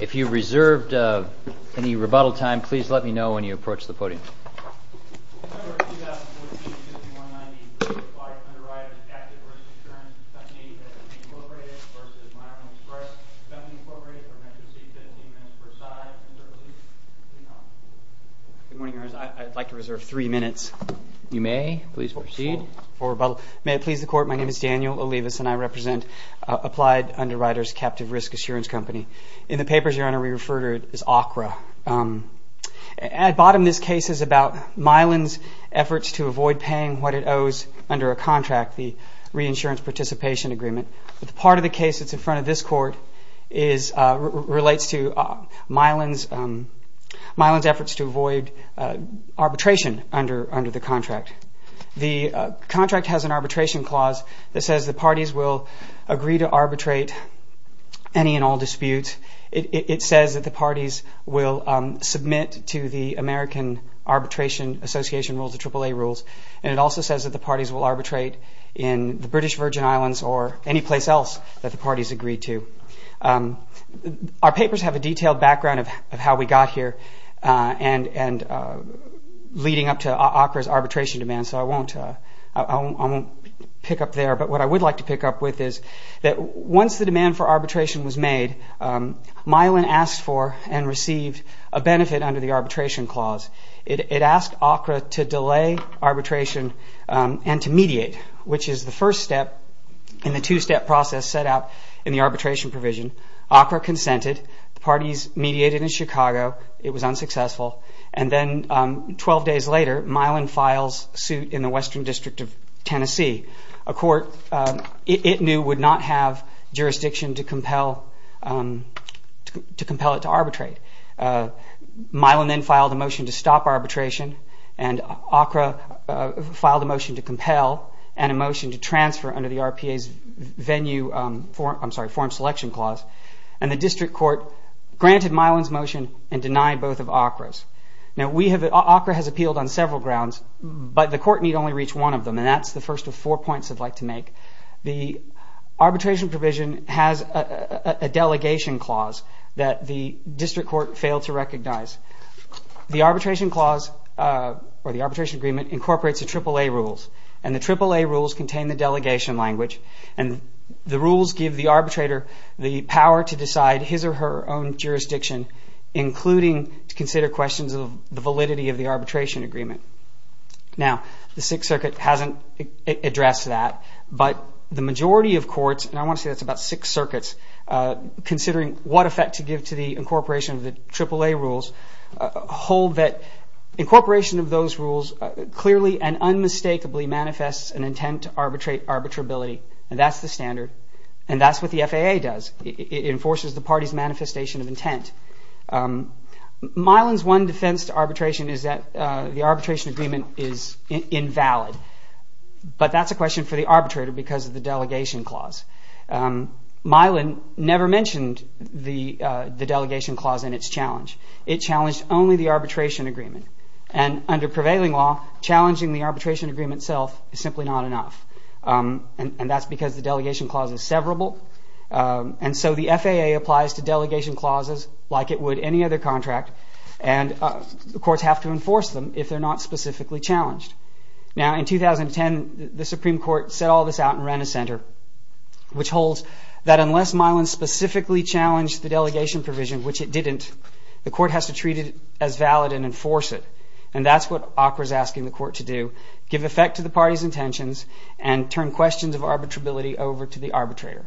If you reserved any rebuttal time, please let me know when you approach the podium. Good morning. I'd like to reserve three minutes. You may. Please proceed. May it please the Court, my name is Daniel Olivas and I represent Applied Underwriters Captive Risk Assurance Company. In the papers, Your Honor, we refer to it as ACRA. At bottom, this case is about Milan's efforts to avoid paying what it owes under a contract, the reinsurance participation agreement. But the part of the case that's in front of this Court relates to Milan's efforts to avoid arbitration under the contract. The contract has an arbitration clause that says the parties will agree to arbitrate any and all disputes. It says that the parties will submit to the American Arbitration Association rules, the AAA rules. And it also says that the parties will arbitrate in the British Virgin Islands or any place else that the parties agree to. Our papers have a detailed background of how we got here and leading up to ACRA's arbitration demands, so I won't pick up there. But what I would like to pick up with is that once the demand for arbitration was made, Milan asked for and received a benefit under the arbitration clause. It asked ACRA to delay arbitration and to mediate, which is the first step in the two-step process set out in the arbitration provision. ACRA consented. The parties mediated in Chicago. It was unsuccessful. And then 12 days later, Milan files suit in the Western District of Tennessee, a court it knew would not have jurisdiction to compel it to arbitrate. Milan then filed a motion to stop arbitration, and ACRA filed a motion to compel and a motion to transfer under the RPA's forum selection clause. And the district court granted Milan's motion and denied both of ACRA's. Now, ACRA has appealed on several grounds, but the court need only reach one of them, and that's the first of four points I'd like to make. The arbitration provision has a delegation clause that the district court failed to recognize. The arbitration clause or the arbitration agreement incorporates the AAA rules, and the AAA rules contain the delegation language. And the rules give the arbitrator the power to decide his or her own jurisdiction, including to consider questions of the validity of the arbitration agreement. Now, the Sixth Circuit hasn't addressed that, but the majority of courts, and I want to say that's about six circuits, considering what effect to give to the incorporation of the AAA rules, hold that incorporation of those rules clearly and unmistakably manifests an intent to arbitrate arbitrability. And that's the standard, and that's what the FAA does. Milan's one defense to arbitration is that the arbitration agreement is invalid. But that's a question for the arbitrator because of the delegation clause. Milan never mentioned the delegation clause and its challenge. It challenged only the arbitration agreement. And under prevailing law, challenging the arbitration agreement itself is simply not enough. And that's because the delegation clause is severable. And so the FAA applies to delegation clauses like it would any other contract, and the courts have to enforce them if they're not specifically challenged. Now, in 2010, the Supreme Court set all this out and ran a center, which holds that unless Milan specifically challenged the delegation provision, which it didn't, the court has to treat it as valid and enforce it. And that's what ACRA's asking the court to do, give effect to the party's intentions and turn questions of arbitrability over to the arbitrator.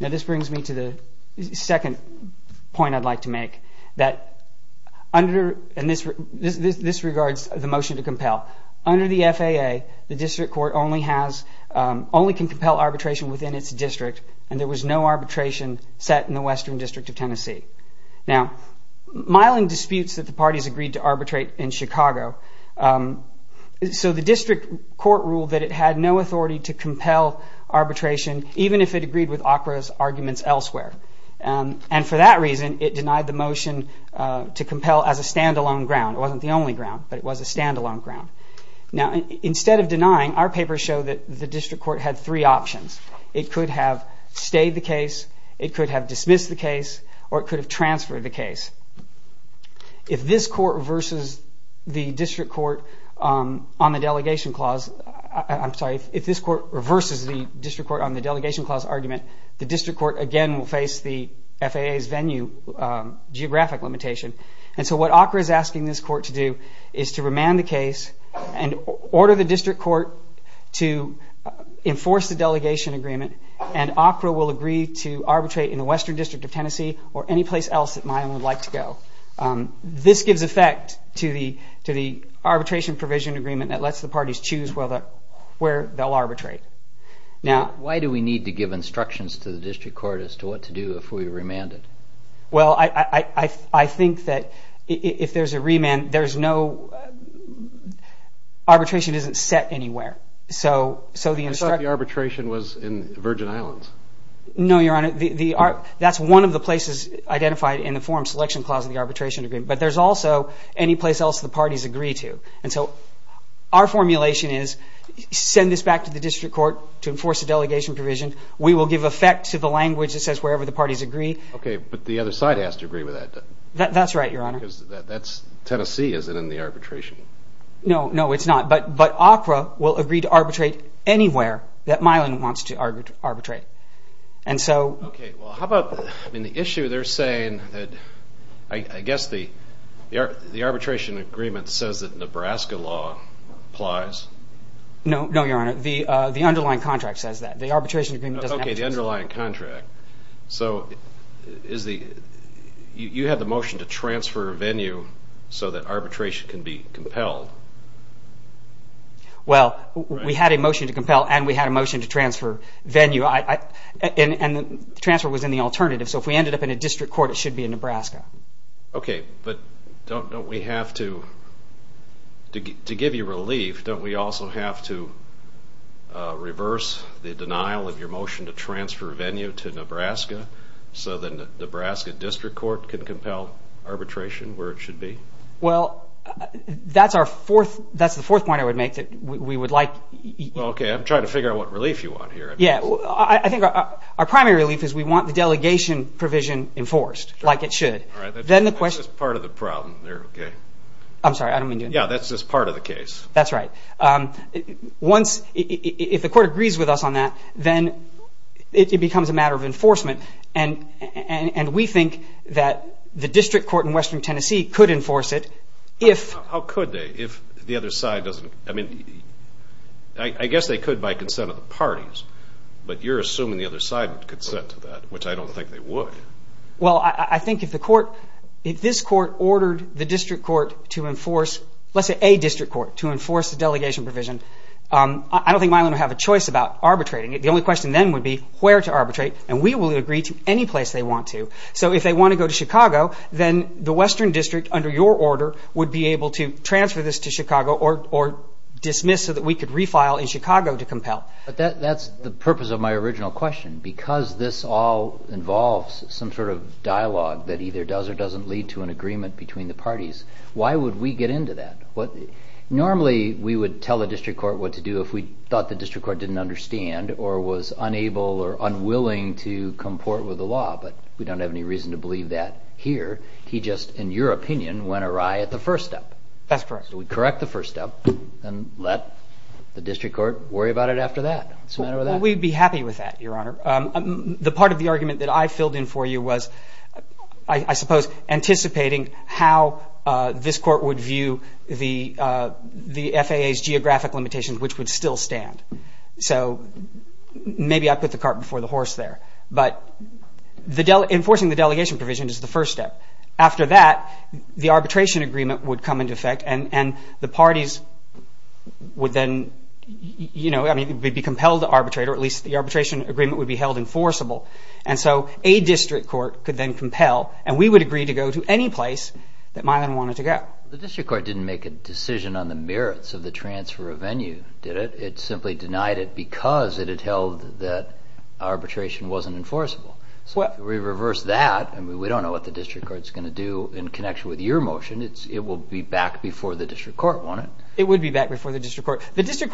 Now, this brings me to the second point I'd like to make. This regards the motion to compel. Under the FAA, the district court only can compel arbitration within its district, and there was no arbitration set in the Western District of Tennessee. Now, Milan disputes that the parties agreed to arbitrate in Chicago. So the district court ruled that it had no authority to compel arbitration, even if it agreed with ACRA's arguments elsewhere. And for that reason, it denied the motion to compel as a standalone ground. It wasn't the only ground, but it was a standalone ground. Now, instead of denying, our papers show that the district court had three options. It could have stayed the case, it could have dismissed the case, or it could have transferred the case. If this court reverses the district court on the delegation clause argument, the district court, again, will face the FAA's venue geographic limitation. And so what ACRA is asking this court to do is to remand the case and order the district court to enforce the delegation agreement, and ACRA will agree to arbitrate in the Western District of Tennessee or any place else that Milan would like to go. This gives effect to the arbitration provision agreement that lets the parties choose where they'll arbitrate. Now, why do we need to give instructions to the district court as to what to do if we remand it? Well, I think that if there's a remand, there's no – arbitration isn't set anywhere. So the – I thought the arbitration was in Virgin Islands. No, Your Honor. That's one of the places identified in the forum selection clause of the arbitration agreement. But there's also any place else the parties agree to. And so our formulation is send this back to the district court to enforce the delegation provision. We will give effect to the language that says wherever the parties agree. Okay, but the other side has to agree with that. That's right, Your Honor. Because that's Tennessee, isn't it, in the arbitration? No, no, it's not. But ACRA will agree to arbitrate anywhere that Milan wants to arbitrate. And so – Okay, well, how about – I mean, the issue they're saying that – I guess the arbitration agreement says that Nebraska law applies. No, no, Your Honor. The underlying contract says that. The arbitration agreement doesn't have to. Okay, the underlying contract. So is the – you had the motion to transfer venue so that arbitration can be compelled. Well, we had a motion to compel and we had a motion to transfer venue. And the transfer was in the alternative. So if we ended up in a district court, it should be in Nebraska. Okay, but don't we have to – to give you relief, don't we also have to reverse the denial of your motion to transfer venue to Nebraska so that Nebraska district court can compel arbitration where it should be? Well, that's our fourth – that's the fourth point I would make, that we would like – Okay, I'm trying to figure out what relief you want here. Yeah, I think our primary relief is we want the delegation provision enforced like it should. Then the question – That's just part of the problem there, okay? I'm sorry, I don't mean to – Yeah, that's just part of the case. That's right. Once – if the court agrees with us on that, then it becomes a matter of enforcement. And we think that the district court in western Tennessee could enforce it if – I guess they could by consent of the parties, but you're assuming the other side would consent to that, which I don't think they would. Well, I think if the court – if this court ordered the district court to enforce – let's say a district court to enforce the delegation provision, I don't think Milam would have a choice about arbitrating it. The only question then would be where to arbitrate, and we will agree to any place they want to. So if they want to go to Chicago, then the western district, under your order, would be able to transfer this to Chicago or dismiss so that we could refile in Chicago to compel. But that's the purpose of my original question. Because this all involves some sort of dialogue that either does or doesn't lead to an agreement between the parties, why would we get into that? Normally we would tell the district court what to do if we thought the district court didn't understand or was unable or unwilling to comport with the law, but we don't have any reason to believe that here. He just, in your opinion, went awry at the first step. That's correct. So we correct the first step and let the district court worry about it after that. What's the matter with that? We'd be happy with that, Your Honor. The part of the argument that I filled in for you was, I suppose, anticipating how this court would view the FAA's geographic limitations, which would still stand. So maybe I put the cart before the horse there. But enforcing the delegation provision is the first step. After that, the arbitration agreement would come into effect, and the parties would then be compelled to arbitrate, or at least the arbitration agreement would be held enforceable. And so a district court could then compel, and we would agree to go to any place that Milan wanted to go. The district court didn't make a decision on the merits of the transfer of venue, did it? It simply denied it because it had held that arbitration wasn't enforceable. So if we reverse that, we don't know what the district court is going to do in connection with your motion. It will be back before the district court, won't it? It would be back before the district court. The district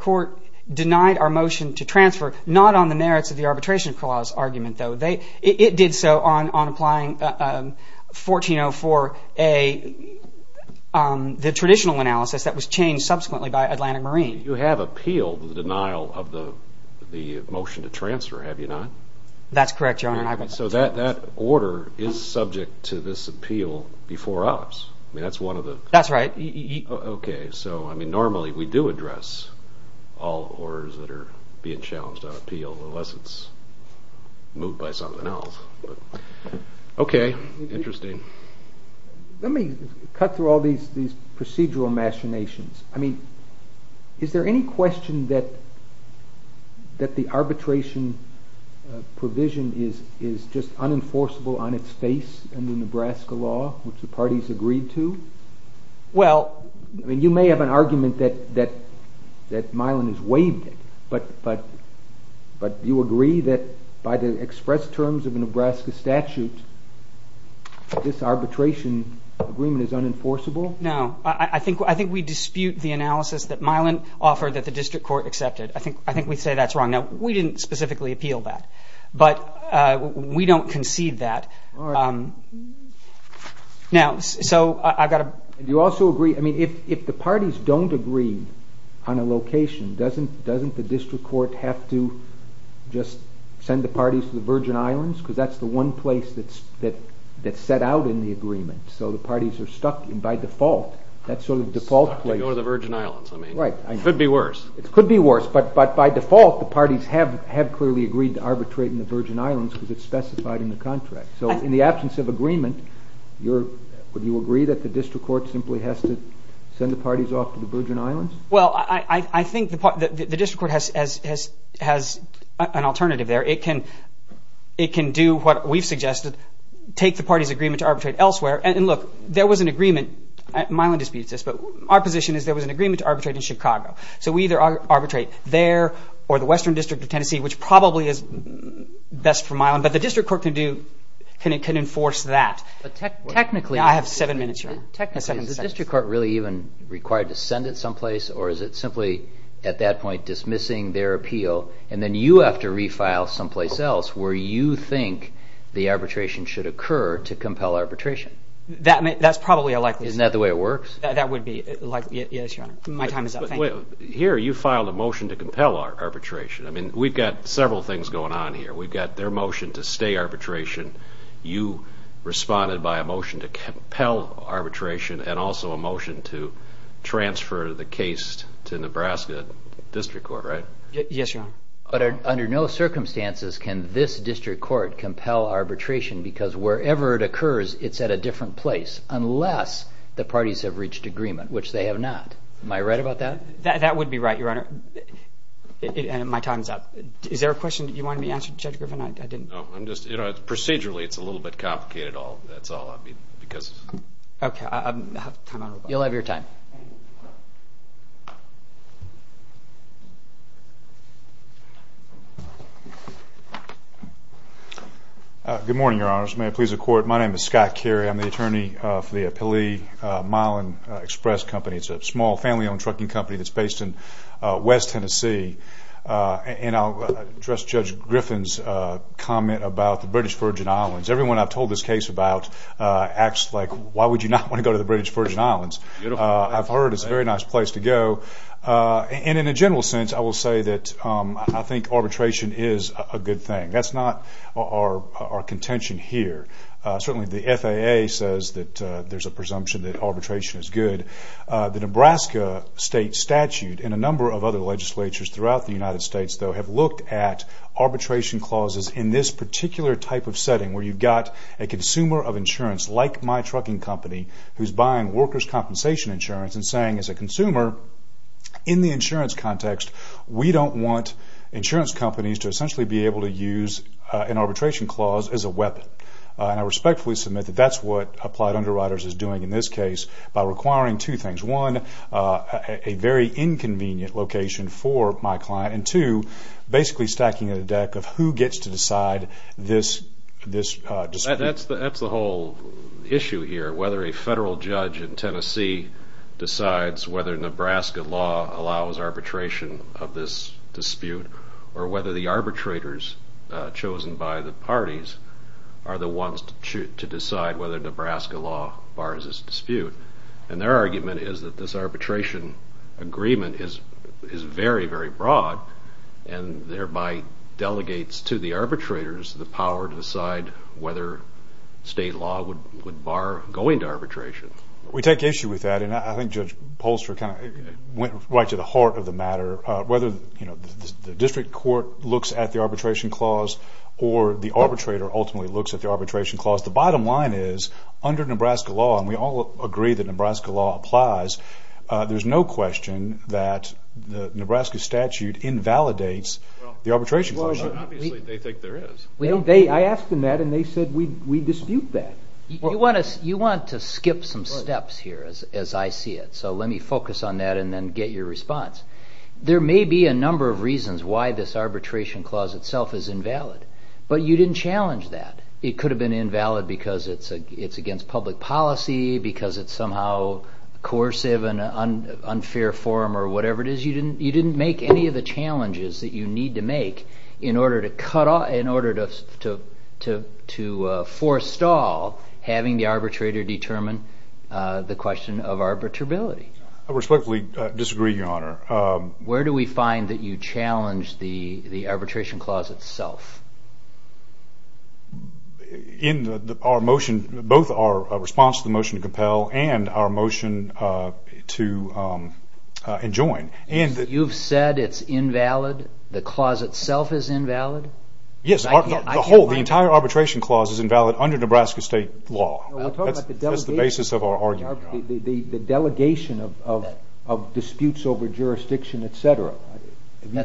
court denied our motion to transfer, not on the merits of the arbitration clause argument, though. It did so on applying 1404A, the traditional analysis that was changed subsequently by Atlantic Marine. You have appealed the denial of the motion to transfer, have you not? That's correct, Your Honor. So that order is subject to this appeal before us? That's right. Okay, so normally we do address all orders that are being challenged on appeal, unless it's moved by something else. Okay, interesting. Let me cut through all these procedural machinations. Is there any question that the arbitration provision is just unenforceable on its face under Nebraska law, which the parties agreed to? You may have an argument that Milan has waived it, but you agree that by the express terms of a Nebraska statute, this arbitration agreement is unenforceable? No. I think we dispute the analysis that Milan offered that the district court accepted. I think we say that's wrong. Now, we didn't specifically appeal that, but we don't concede that. Do you also agree, I mean, if the parties don't agree on a location, doesn't the district court have to just send the parties to the Virgin Islands? Because that's the one place that's set out in the agreement. So the parties are stuck, and by default, that's sort of the default place. Stuck to go to the Virgin Islands. Right. It could be worse. It could be worse, but by default, the parties have clearly agreed to arbitrate in the Virgin Islands because it's specified in the contract. So in the absence of agreement, would you agree that the district court simply has to send the parties off to the Virgin Islands? Well, I think the district court has an alternative there. It can do what we've suggested, take the parties' agreement to arbitrate elsewhere. And look, there was an agreement. Milan disputes this, but our position is there was an agreement to arbitrate in Chicago. So we either arbitrate there or the Western District of Tennessee, which probably is best for Milan. But the district court can enforce that. Now I have seven minutes, Your Honor. Is the district court really even required to send it someplace, or is it simply at that point dismissing their appeal, and then you have to refile someplace else where you think the arbitration should occur to compel arbitration? That's probably a likely scenario. Isn't that the way it works? That would be likely. Yes, Your Honor. My time is up. Thank you. Here you filed a motion to compel arbitration. I mean, we've got several things going on here. We've got their motion to stay arbitration. You responded by a motion to compel arbitration and also a motion to transfer the case to Nebraska District Court, right? Yes, Your Honor. But under no circumstances can this district court compel arbitration because wherever it occurs, it's at a different place, unless the parties have reached agreement, which they have not. Am I right about that? That would be right, Your Honor. My time is up. Is there a question you wanted me to answer, Judge Griffin? I didn't. No. Procedurally, it's a little bit complicated. That's all. Okay. You'll have your time. Good morning, Your Honors. May it please the Court. My name is Scott Carey. I'm the attorney for the Pelee-Milan Express Company. It's a small family-owned trucking company that's based in West Tennessee. And I'll address Judge Griffin's comment about the British Virgin Islands. Everyone I've told this case about acts like, why would you not want to go to the British Virgin Islands? I've heard it's a very nice place to go. And in a general sense, I will say that I think arbitration is a good thing. That's not our contention here. Certainly the FAA says that there's a presumption that arbitration is good. The Nebraska state statute and a number of other legislatures throughout the United States, though, have looked at arbitration clauses in this particular type of setting where you've got a consumer of insurance, like my trucking company, who's buying workers' compensation insurance and saying, as a consumer, in the insurance context, we don't want insurance companies to essentially be able to use an arbitration clause as a weapon. And I respectfully submit that that's what Applied Underwriters is doing in this case by requiring two things. One, a very inconvenient location for my client, and two, basically stacking a deck of who gets to decide this dispute. That's the whole issue here, whether a federal judge in Tennessee decides whether Nebraska law allows arbitration of this dispute or whether the arbitrators chosen by the parties are the ones to decide whether Nebraska law bars this dispute. And their argument is that this arbitration agreement is very, very broad and thereby delegates to the arbitrators the power to decide whether state law would bar going to arbitration. We take issue with that, and I think Judge Polster kind of went right to the heart of the matter. Whether the district court looks at the arbitration clause or the arbitrator ultimately looks at the arbitration clause, the bottom line is, under Nebraska law, and we all agree that Nebraska law applies, there's no question that the Nebraska statute invalidates the arbitration clause. Obviously, they think there is. I asked them that, and they said we dispute that. You want to skip some steps here as I see it, so let me focus on that and then get your response. There may be a number of reasons why this arbitration clause itself is invalid, but you didn't challenge that. It could have been invalid because it's against public policy, because it's somehow coercive and unfair form or whatever it is. You didn't make any of the challenges that you need to make in order to forestall having the arbitrator determine the question of arbitrability. I respectfully disagree, Your Honor. Where do we find that you challenge the arbitration clause itself? In both our response to the motion to compel and our motion to enjoin. You've said it's invalid, the clause itself is invalid? Yes, the entire arbitration clause is invalid under Nebraska state law. That's the basis of our argument. The delegation of disputes over jurisdiction, et cetera.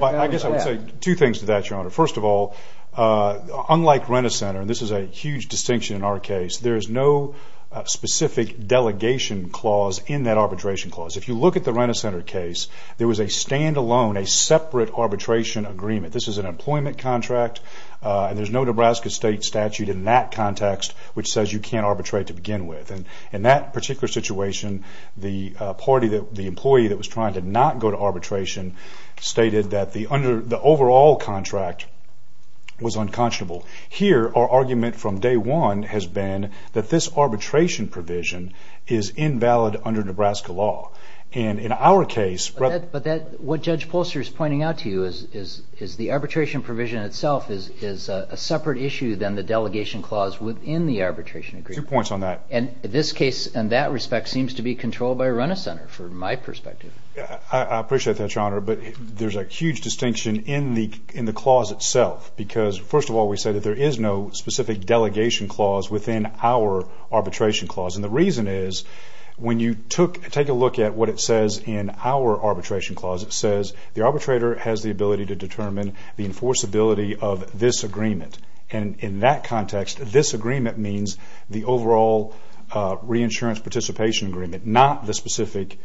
I guess I would say two things to that, Your Honor. First of all, unlike Renner Center, and this is a huge distinction in our case, there is no specific delegation clause in that arbitration clause. If you look at the Renner Center case, there was a standalone, a separate arbitration agreement. This is an employment contract, and there's no Nebraska state statute in that context which says you can't arbitrate to begin with. In that particular situation, the employee that was trying to not go to arbitration stated that the overall contract was unconscionable. Here, our argument from day one has been that this arbitration provision is invalid under Nebraska law. In our case... But what Judge Polster is pointing out to you is the arbitration provision itself is a separate issue than the delegation clause within the arbitration agreement. Two points on that. This case, in that respect, seems to be controlled by Renner Center, from my perspective. I appreciate that, Your Honor, but there's a huge distinction in the clause itself. First of all, we said that there is no specific delegation clause within our arbitration clause. The reason is, when you take a look at what it says in our arbitration clause, it says the arbitrator has the ability to determine the enforceability of this agreement. In that context, this agreement means the overall reinsurance participation agreement, not the specific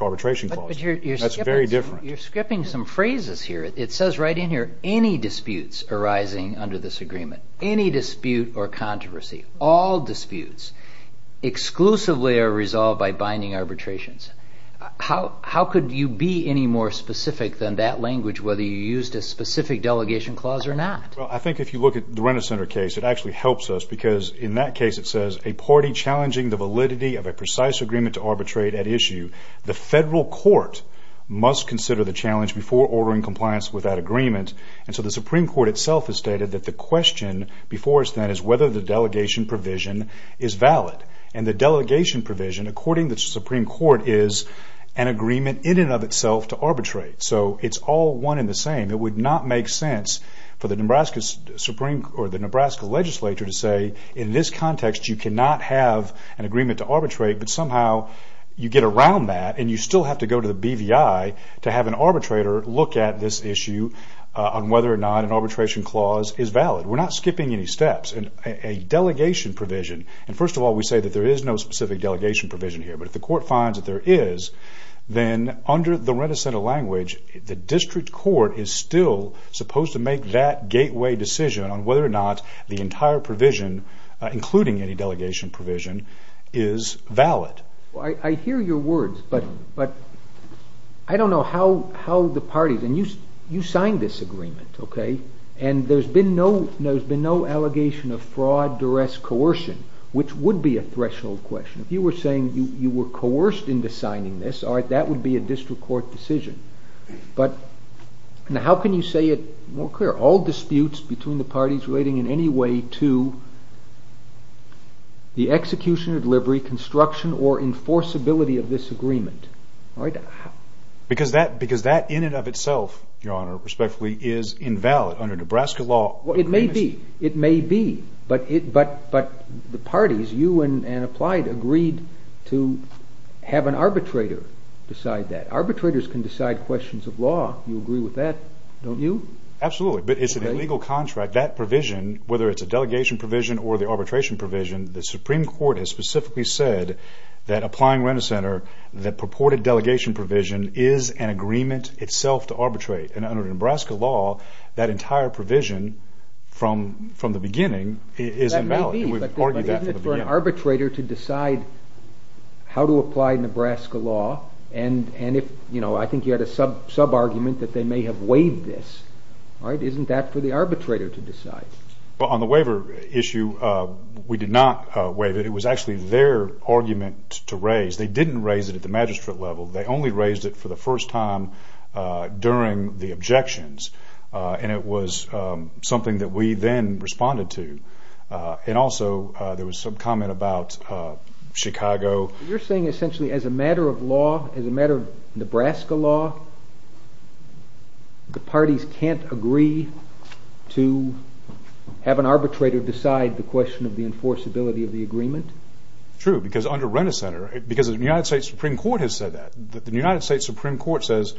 arbitration clause. That's very different. You're skipping some phrases here. It says right in here, any disputes arising under this agreement, any dispute or controversy, all disputes, exclusively are resolved by binding arbitrations. How could you be any more specific than that language, whether you used a specific delegation clause or not? I think if you look at the Renner Center case, it actually helps us, because in that case it says, a party challenging the validity of a precise agreement to arbitrate at issue. The federal court must consider the challenge before ordering compliance with that agreement. The Supreme Court itself has stated that the question before us then is whether the delegation provision is valid. The delegation provision, according to the Supreme Court, is an agreement in and of itself to arbitrate. It's all one and the same. It would not make sense for the Nebraska legislature to say, in this context you cannot have an agreement to arbitrate, but somehow you get around that and you still have to go to the BVI to have an arbitrator look at this issue on whether or not an arbitration clause is valid. We're not skipping any steps. A delegation provision, and first of all we say that there is no specific delegation provision here, but if the court finds that there is, then under the renaissance language, the district court is still supposed to make that gateway decision on whether or not the entire provision, including any delegation provision, is valid. I hear your words, but I don't know how the parties, and you signed this agreement, and there's been no allegation of fraud, duress, coercion, which would be a threshold question. If you were saying you were coerced into signing this, that would be a district court decision. How can you say it more clear? All disputes between the parties relating in any way to the execution, delivery, construction, or enforceability of this agreement. Because that in and of itself, Your Honor, respectfully, is invalid under Nebraska law. It may be. But the parties, you and Applied, agreed to have an arbitrator decide that. Arbitrators can decide questions of law. You agree with that, don't you? Absolutely. But it's an illegal contract. That provision, whether it's a delegation provision or the arbitration provision, the Supreme Court has specifically said, that Applying Renaissance Center, that purported delegation provision is an agreement itself to arbitrate. And under Nebraska law, that entire provision from the beginning is invalid. That may be. We've argued that from the beginning. But isn't it for an arbitrator to decide how to apply Nebraska law? And I think you had a sub-argument that they may have waived this. Isn't that for the arbitrator to decide? On the waiver issue, we did not waive it. It was actually their argument to raise. They didn't raise it at the magistrate level. They only raised it for the first time during the objections. And it was something that we then responded to. And also there was some comment about Chicago. You're saying essentially as a matter of law, as a matter of Nebraska law, the parties can't agree to have an arbitrator decide the question of the enforceability of the agreement? True, because under Renaissance Center, because the United States Supreme Court has said that. The United States Supreme Court says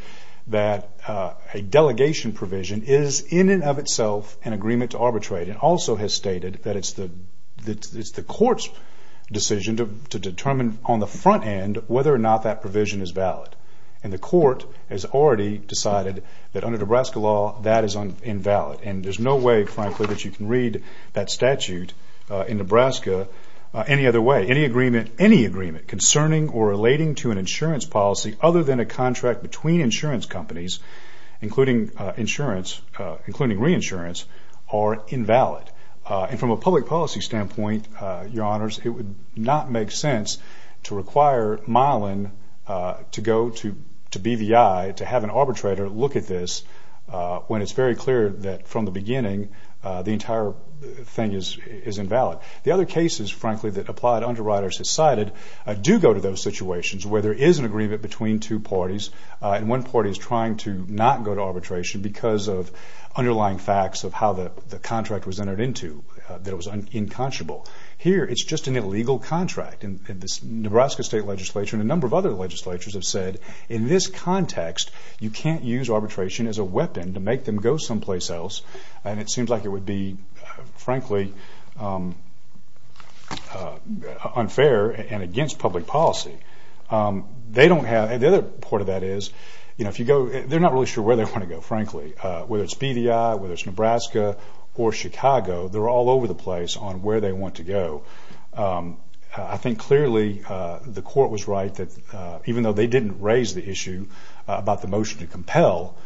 that a delegation provision is in and of itself an agreement to arbitrate and also has stated that it's the court's decision to determine on the front end whether or not that provision is valid. And the court has already decided that under Nebraska law, that is invalid. And there's no way, frankly, that you can read that statute in Nebraska any other way. Any agreement concerning or relating to an insurance policy other than a contract between insurance companies, including insurance, including reinsurance, are invalid. And from a public policy standpoint, Your Honors, it would not make sense to require Mylan to go to BVI to have an arbitrator look at this when it's very clear that from the beginning the entire thing is invalid. The other cases, frankly, that applied underwriters have cited do go to those situations where there is an agreement between two parties, and one party is trying to not go to arbitration because of underlying facts of how the contract was entered into that was unconscionable. Here, it's just an illegal contract. And the Nebraska State Legislature and a number of other legislatures have said, in this context, you can't use arbitration as a weapon to make them go someplace else. And it seems like it would be, frankly, unfair and against public policy. The other part of that is, they're not really sure where they want to go, frankly. Whether it's BVI, whether it's Nebraska or Chicago, they're all over the place on where they want to go. I think clearly the court was right that even though they didn't raise the issue about the motion to compel,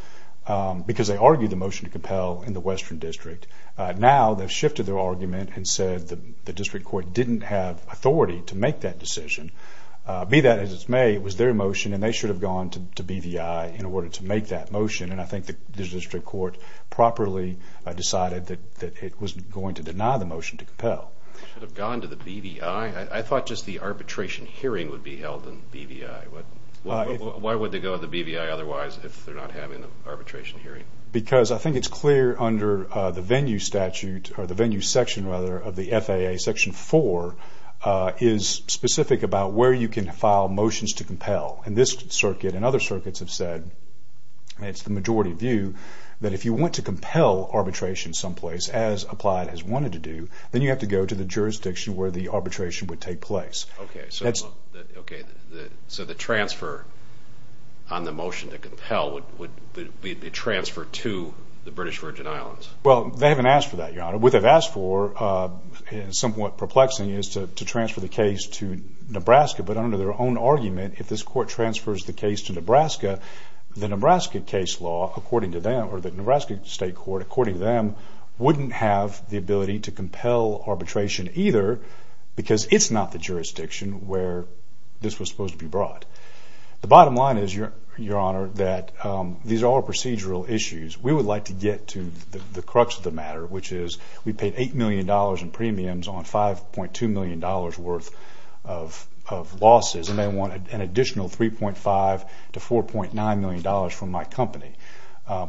because they argued the motion to compel in the Western District, now they've shifted their argument and said the district court didn't have authority to make that decision. Be that as it may, it was their motion, and they should have gone to BVI in order to make that motion. And I think the district court properly decided that it was going to deny the motion to compel. They should have gone to the BVI? I thought just the arbitration hearing would be held in BVI. Why would they go to the BVI otherwise if they're not having an arbitration hearing? Because I think it's clear under the venue statute, or the venue section, rather, of the FAA, Section 4, is specific about where you can file motions to compel. And this circuit and other circuits have said, and it's the majority view, that if you want to compel arbitration someplace, as applied as wanted to do, then you have to go to the jurisdiction where the arbitration would take place. Okay, so the transfer on the motion to compel would be a transfer to the British Virgin Islands? Well, they haven't asked for that, Your Honor. What they've asked for, somewhat perplexing, is to transfer the case to Nebraska. But under their own argument, if this court transfers the case to Nebraska, the Nebraska case law, according to them, or the Nebraska state court, according to them, wouldn't have the ability to compel arbitration either because it's not the jurisdiction where this was supposed to be brought. The bottom line is, Your Honor, that these are all procedural issues. We would like to get to the crux of the matter, which is we paid $8 million in premiums on $5.2 million worth of losses, and they want an additional $3.5 to $4.9 million from my company.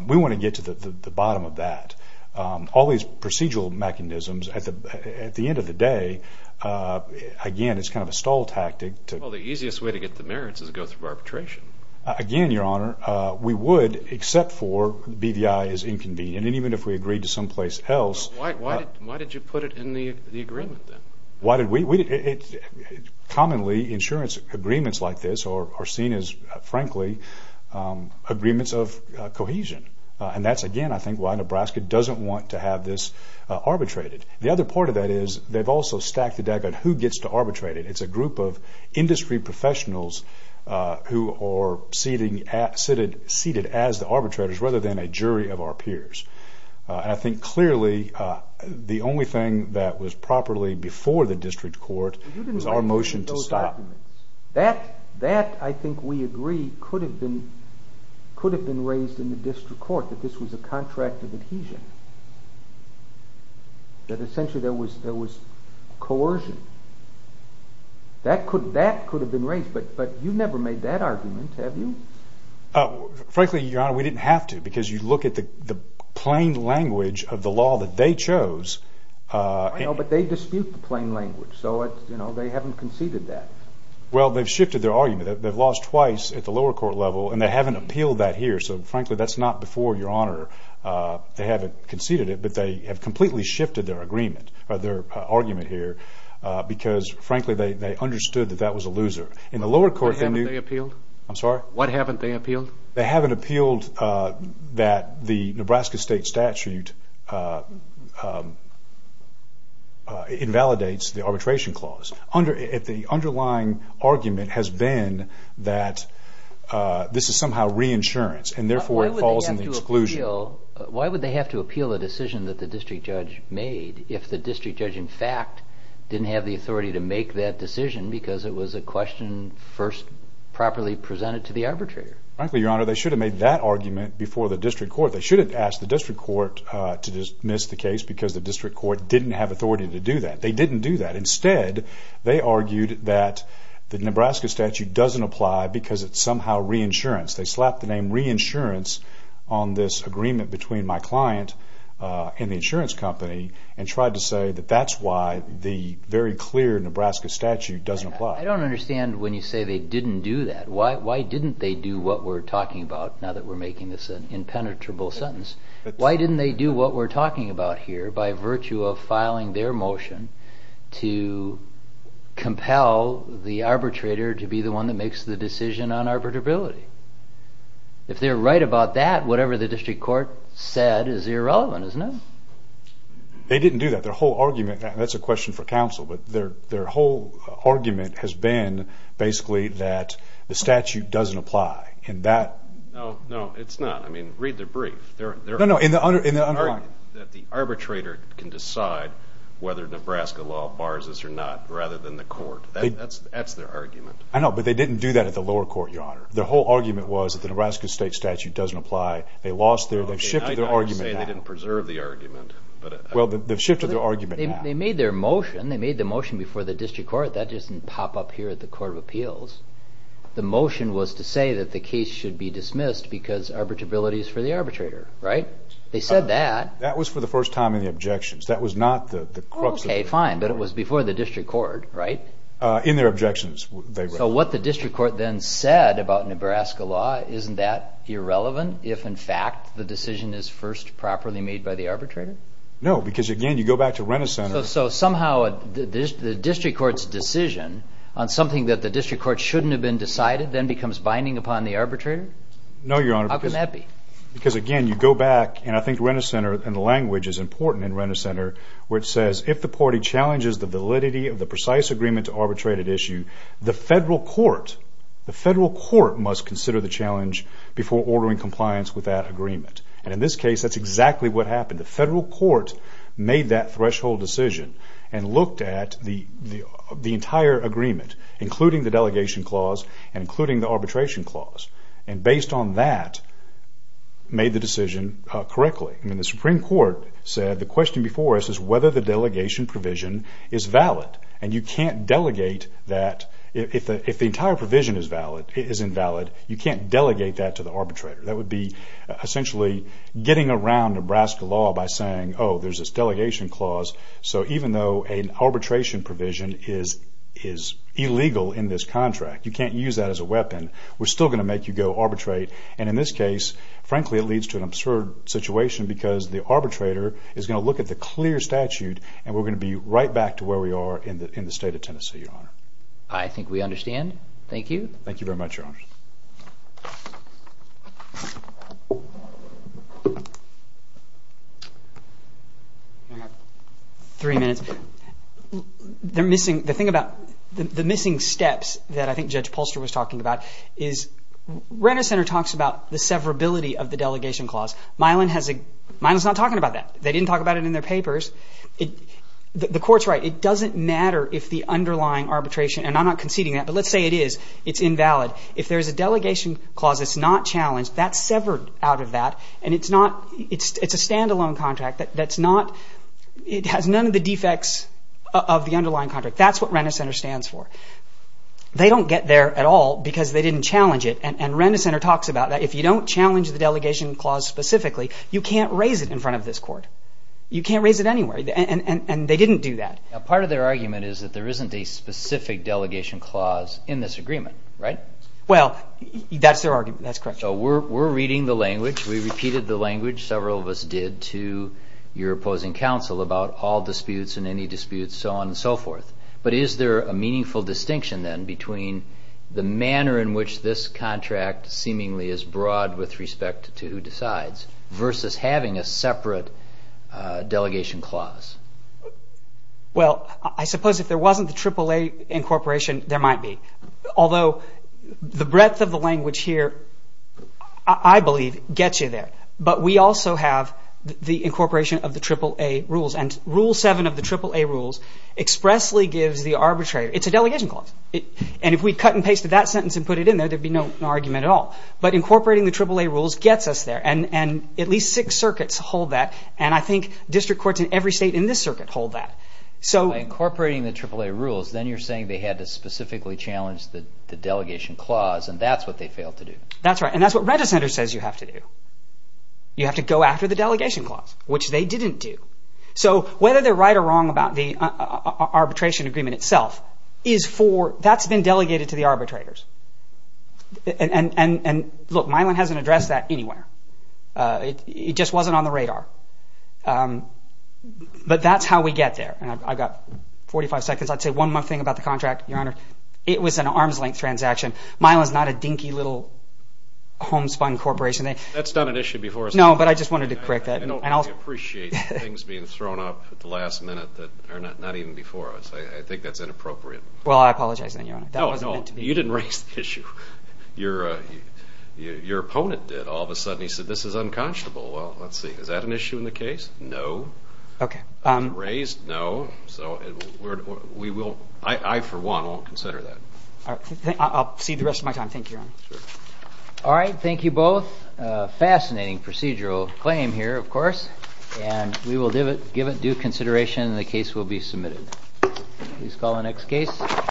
We want to get to the bottom of that. All these procedural mechanisms, at the end of the day, again, it's kind of a stall tactic. Well, the easiest way to get the merits is to go through arbitration. Again, Your Honor, we would, except for BVI is inconvenient. And even if we agreed to someplace else... Why did you put it in the agreement, then? Commonly, insurance agreements like this are seen as, frankly, agreements of cohesion. And that's, again, I think, they don't want to have this arbitrated. The other part of that is they've also stacked the deck on who gets to arbitrate it. It's a group of industry professionals who are seated as the arbitrators rather than a jury of our peers. And I think, clearly, the only thing that was properly before the district court was our motion to stop. That, I think we agree, could have been raised in the district court, that this was a contract of adhesion, that essentially there was coercion. That could have been raised, but you've never made that argument, have you? Frankly, Your Honor, we didn't have to because you look at the plain language of the law that they chose... I know, but they dispute the plain language, so they haven't conceded that. Well, they've shifted their argument. They've lost twice at the lower court level, and they haven't appealed that here, so frankly, that's not before, Your Honor. They haven't conceded it, but they have completely shifted their agreement or their argument here because, frankly, they understood that that was a loser. In the lower court... What haven't they appealed? I'm sorry? What haven't they appealed? They haven't appealed that the Nebraska state statute invalidates the arbitration clause. The underlying argument has been that this is somehow reinsurance, and therefore it falls in the exclusion. Why would they have to appeal a decision that the district judge made if the district judge, in fact, didn't have the authority to make that decision because it was a question first properly presented to the arbitrator? Frankly, Your Honor, they should have made that argument before the district court. They shouldn't have asked the district court to dismiss the case because the district court didn't have authority to do that. They didn't do that. Instead, they argued that the Nebraska statute doesn't apply because it's somehow reinsurance. They slapped the name reinsurance on this agreement between my client and the insurance company and tried to say that that's why the very clear Nebraska statute doesn't apply. I don't understand when you say they didn't do that. Why didn't they do what we're talking about, now that we're making this an impenetrable sentence? Why didn't they do what we're talking about here by virtue of filing their motion to compel the arbitrator to be the one that makes the decision on arbitrability? If they're right about that, whatever the district court said is irrelevant, isn't it? They didn't do that. Their whole argument, and that's a question for counsel, but their whole argument has been basically that the statute doesn't apply, and that... No, no, it's not. I mean, read the brief. No, no, in the underlying... That the arbitrator can decide whether Nebraska law bars this or not rather than the court. That's their argument. I know, but they didn't do that at the lower court, Your Honor. Their whole argument was that the Nebraska state statute doesn't apply. They lost their... I'm not saying they didn't preserve the argument. Well, they've shifted their argument now. They made their motion. They made the motion before the district court. That doesn't pop up here at the Court of Appeals. The motion was to say that the case should be dismissed because arbitrability is for the arbitrator, right? They said that. That was for the first time in the objections. That was not the crux... Oh, okay, fine. But it was before the district court, right? In their objections. So what the district court then said about Nebraska law, isn't that irrelevant if, in fact, the decision is first properly made by the arbitrator? No, because, again, you go back to Renner Center... So somehow the district court's decision on something that the district court shouldn't have been decided then becomes binding upon the arbitrator? No, Your Honor, because... How can that be? Because, again, you go back, and I think Renner Center and the language is important in Renner Center, where it says, if the party challenges the validity of the precise agreement to arbitrate an issue, the federal court... the federal court must consider the challenge before ordering compliance with that agreement. And in this case, that's exactly what happened. The federal court made that threshold decision and looked at the entire agreement, including the delegation clause and including the arbitration clause. And based on that, made the decision correctly. I mean, the Supreme Court said, the question before us is whether the delegation provision is valid. And you can't delegate that... If the entire provision is invalid, you can't delegate that to the arbitrator. That would be essentially getting around Nebraska law by saying, oh, there's this delegation clause, so even though an arbitration provision is illegal in this contract, you can't use that as a weapon, we're still going to make you go arbitrate. And in this case, frankly, it leads to an absurd situation because the arbitrator is going to look at the clear statute and we're going to be right back to where we are in the state of Tennessee, Your Honor. I think we understand. Thank you. Thank you very much, Your Honor. Three minutes. They're missing... The thing about the missing steps that I think Judge Polster was talking about is Renner Center talks about the severability of the delegation clause. Milan has a... Milan's not talking about that. They didn't talk about it in their papers. The Court's right. It doesn't matter if the underlying arbitration... And I'm not conceding that, but let's say it is. It's invalid. If there's a delegation clause that's not challenged, that's severed out of that, and it's not... It's a stand-alone contract. That's not... It has none of the defects of the underlying contract. That's what Renner Center stands for. They don't get there at all because they didn't challenge it, and Renner Center talks about that. If you don't challenge the delegation clause specifically, you can't raise it in front of this Court. You can't raise it anywhere, and they didn't do that. Part of their argument is that there isn't a specific delegation clause in this agreement, right? Well, that's their argument. That's correct. So we're reading the language. We repeated the language, several of us did, to your opposing counsel about all disputes and any disputes, so on and so forth. But is there a meaningful distinction, then, between the manner in which this contract seemingly is broad with respect to who decides versus having a separate delegation clause? Well, I suppose if there wasn't the AAA incorporation, there might be, although the breadth of the language here, I believe, gets you there. But we also have the incorporation of the AAA rules, and Rule 7 of the AAA rules expressly gives the arbitrator... It's a delegation clause, and if we cut and pasted that sentence and put it in there, there'd be no argument at all. But incorporating the AAA rules gets us there, and at least six circuits hold that, and I think district courts in every state in this circuit hold that. By incorporating the AAA rules, then you're saying they had to specifically challenge the delegation clause, and that's what they failed to do. That's right, and that's what reticenter says you have to do. You have to go after the delegation clause, which they didn't do. So whether they're right or wrong about the arbitration agreement itself is for... That's been delegated to the arbitrators, and look, Milan hasn't addressed that anywhere. It just wasn't on the radar, but that's how we get there, and I've got 45 seconds. I'd say one more thing about the contract, Your Honor. It was an arm's-length transaction. Milan's not a dinky little homespun corporation. That's not an issue before us. No, but I just wanted to correct that. I don't really appreciate things being thrown up at the last minute that are not even before us. I think that's inappropriate. Well, I apologize then, Your Honor. That wasn't meant to be. You didn't raise the issue. Your opponent did. All of a sudden, he said, this is unconscionable. Well, let's see. Is that an issue in the case? No. Okay. It wasn't raised? No. So we will... I, for one, won't consider that. I'll cede the rest of my time. Thank you, Your Honor. Sure. All right. Thank you both. Fascinating procedural claim here, of course, and we will give it due consideration, and the case will be submitted. Please call the next case.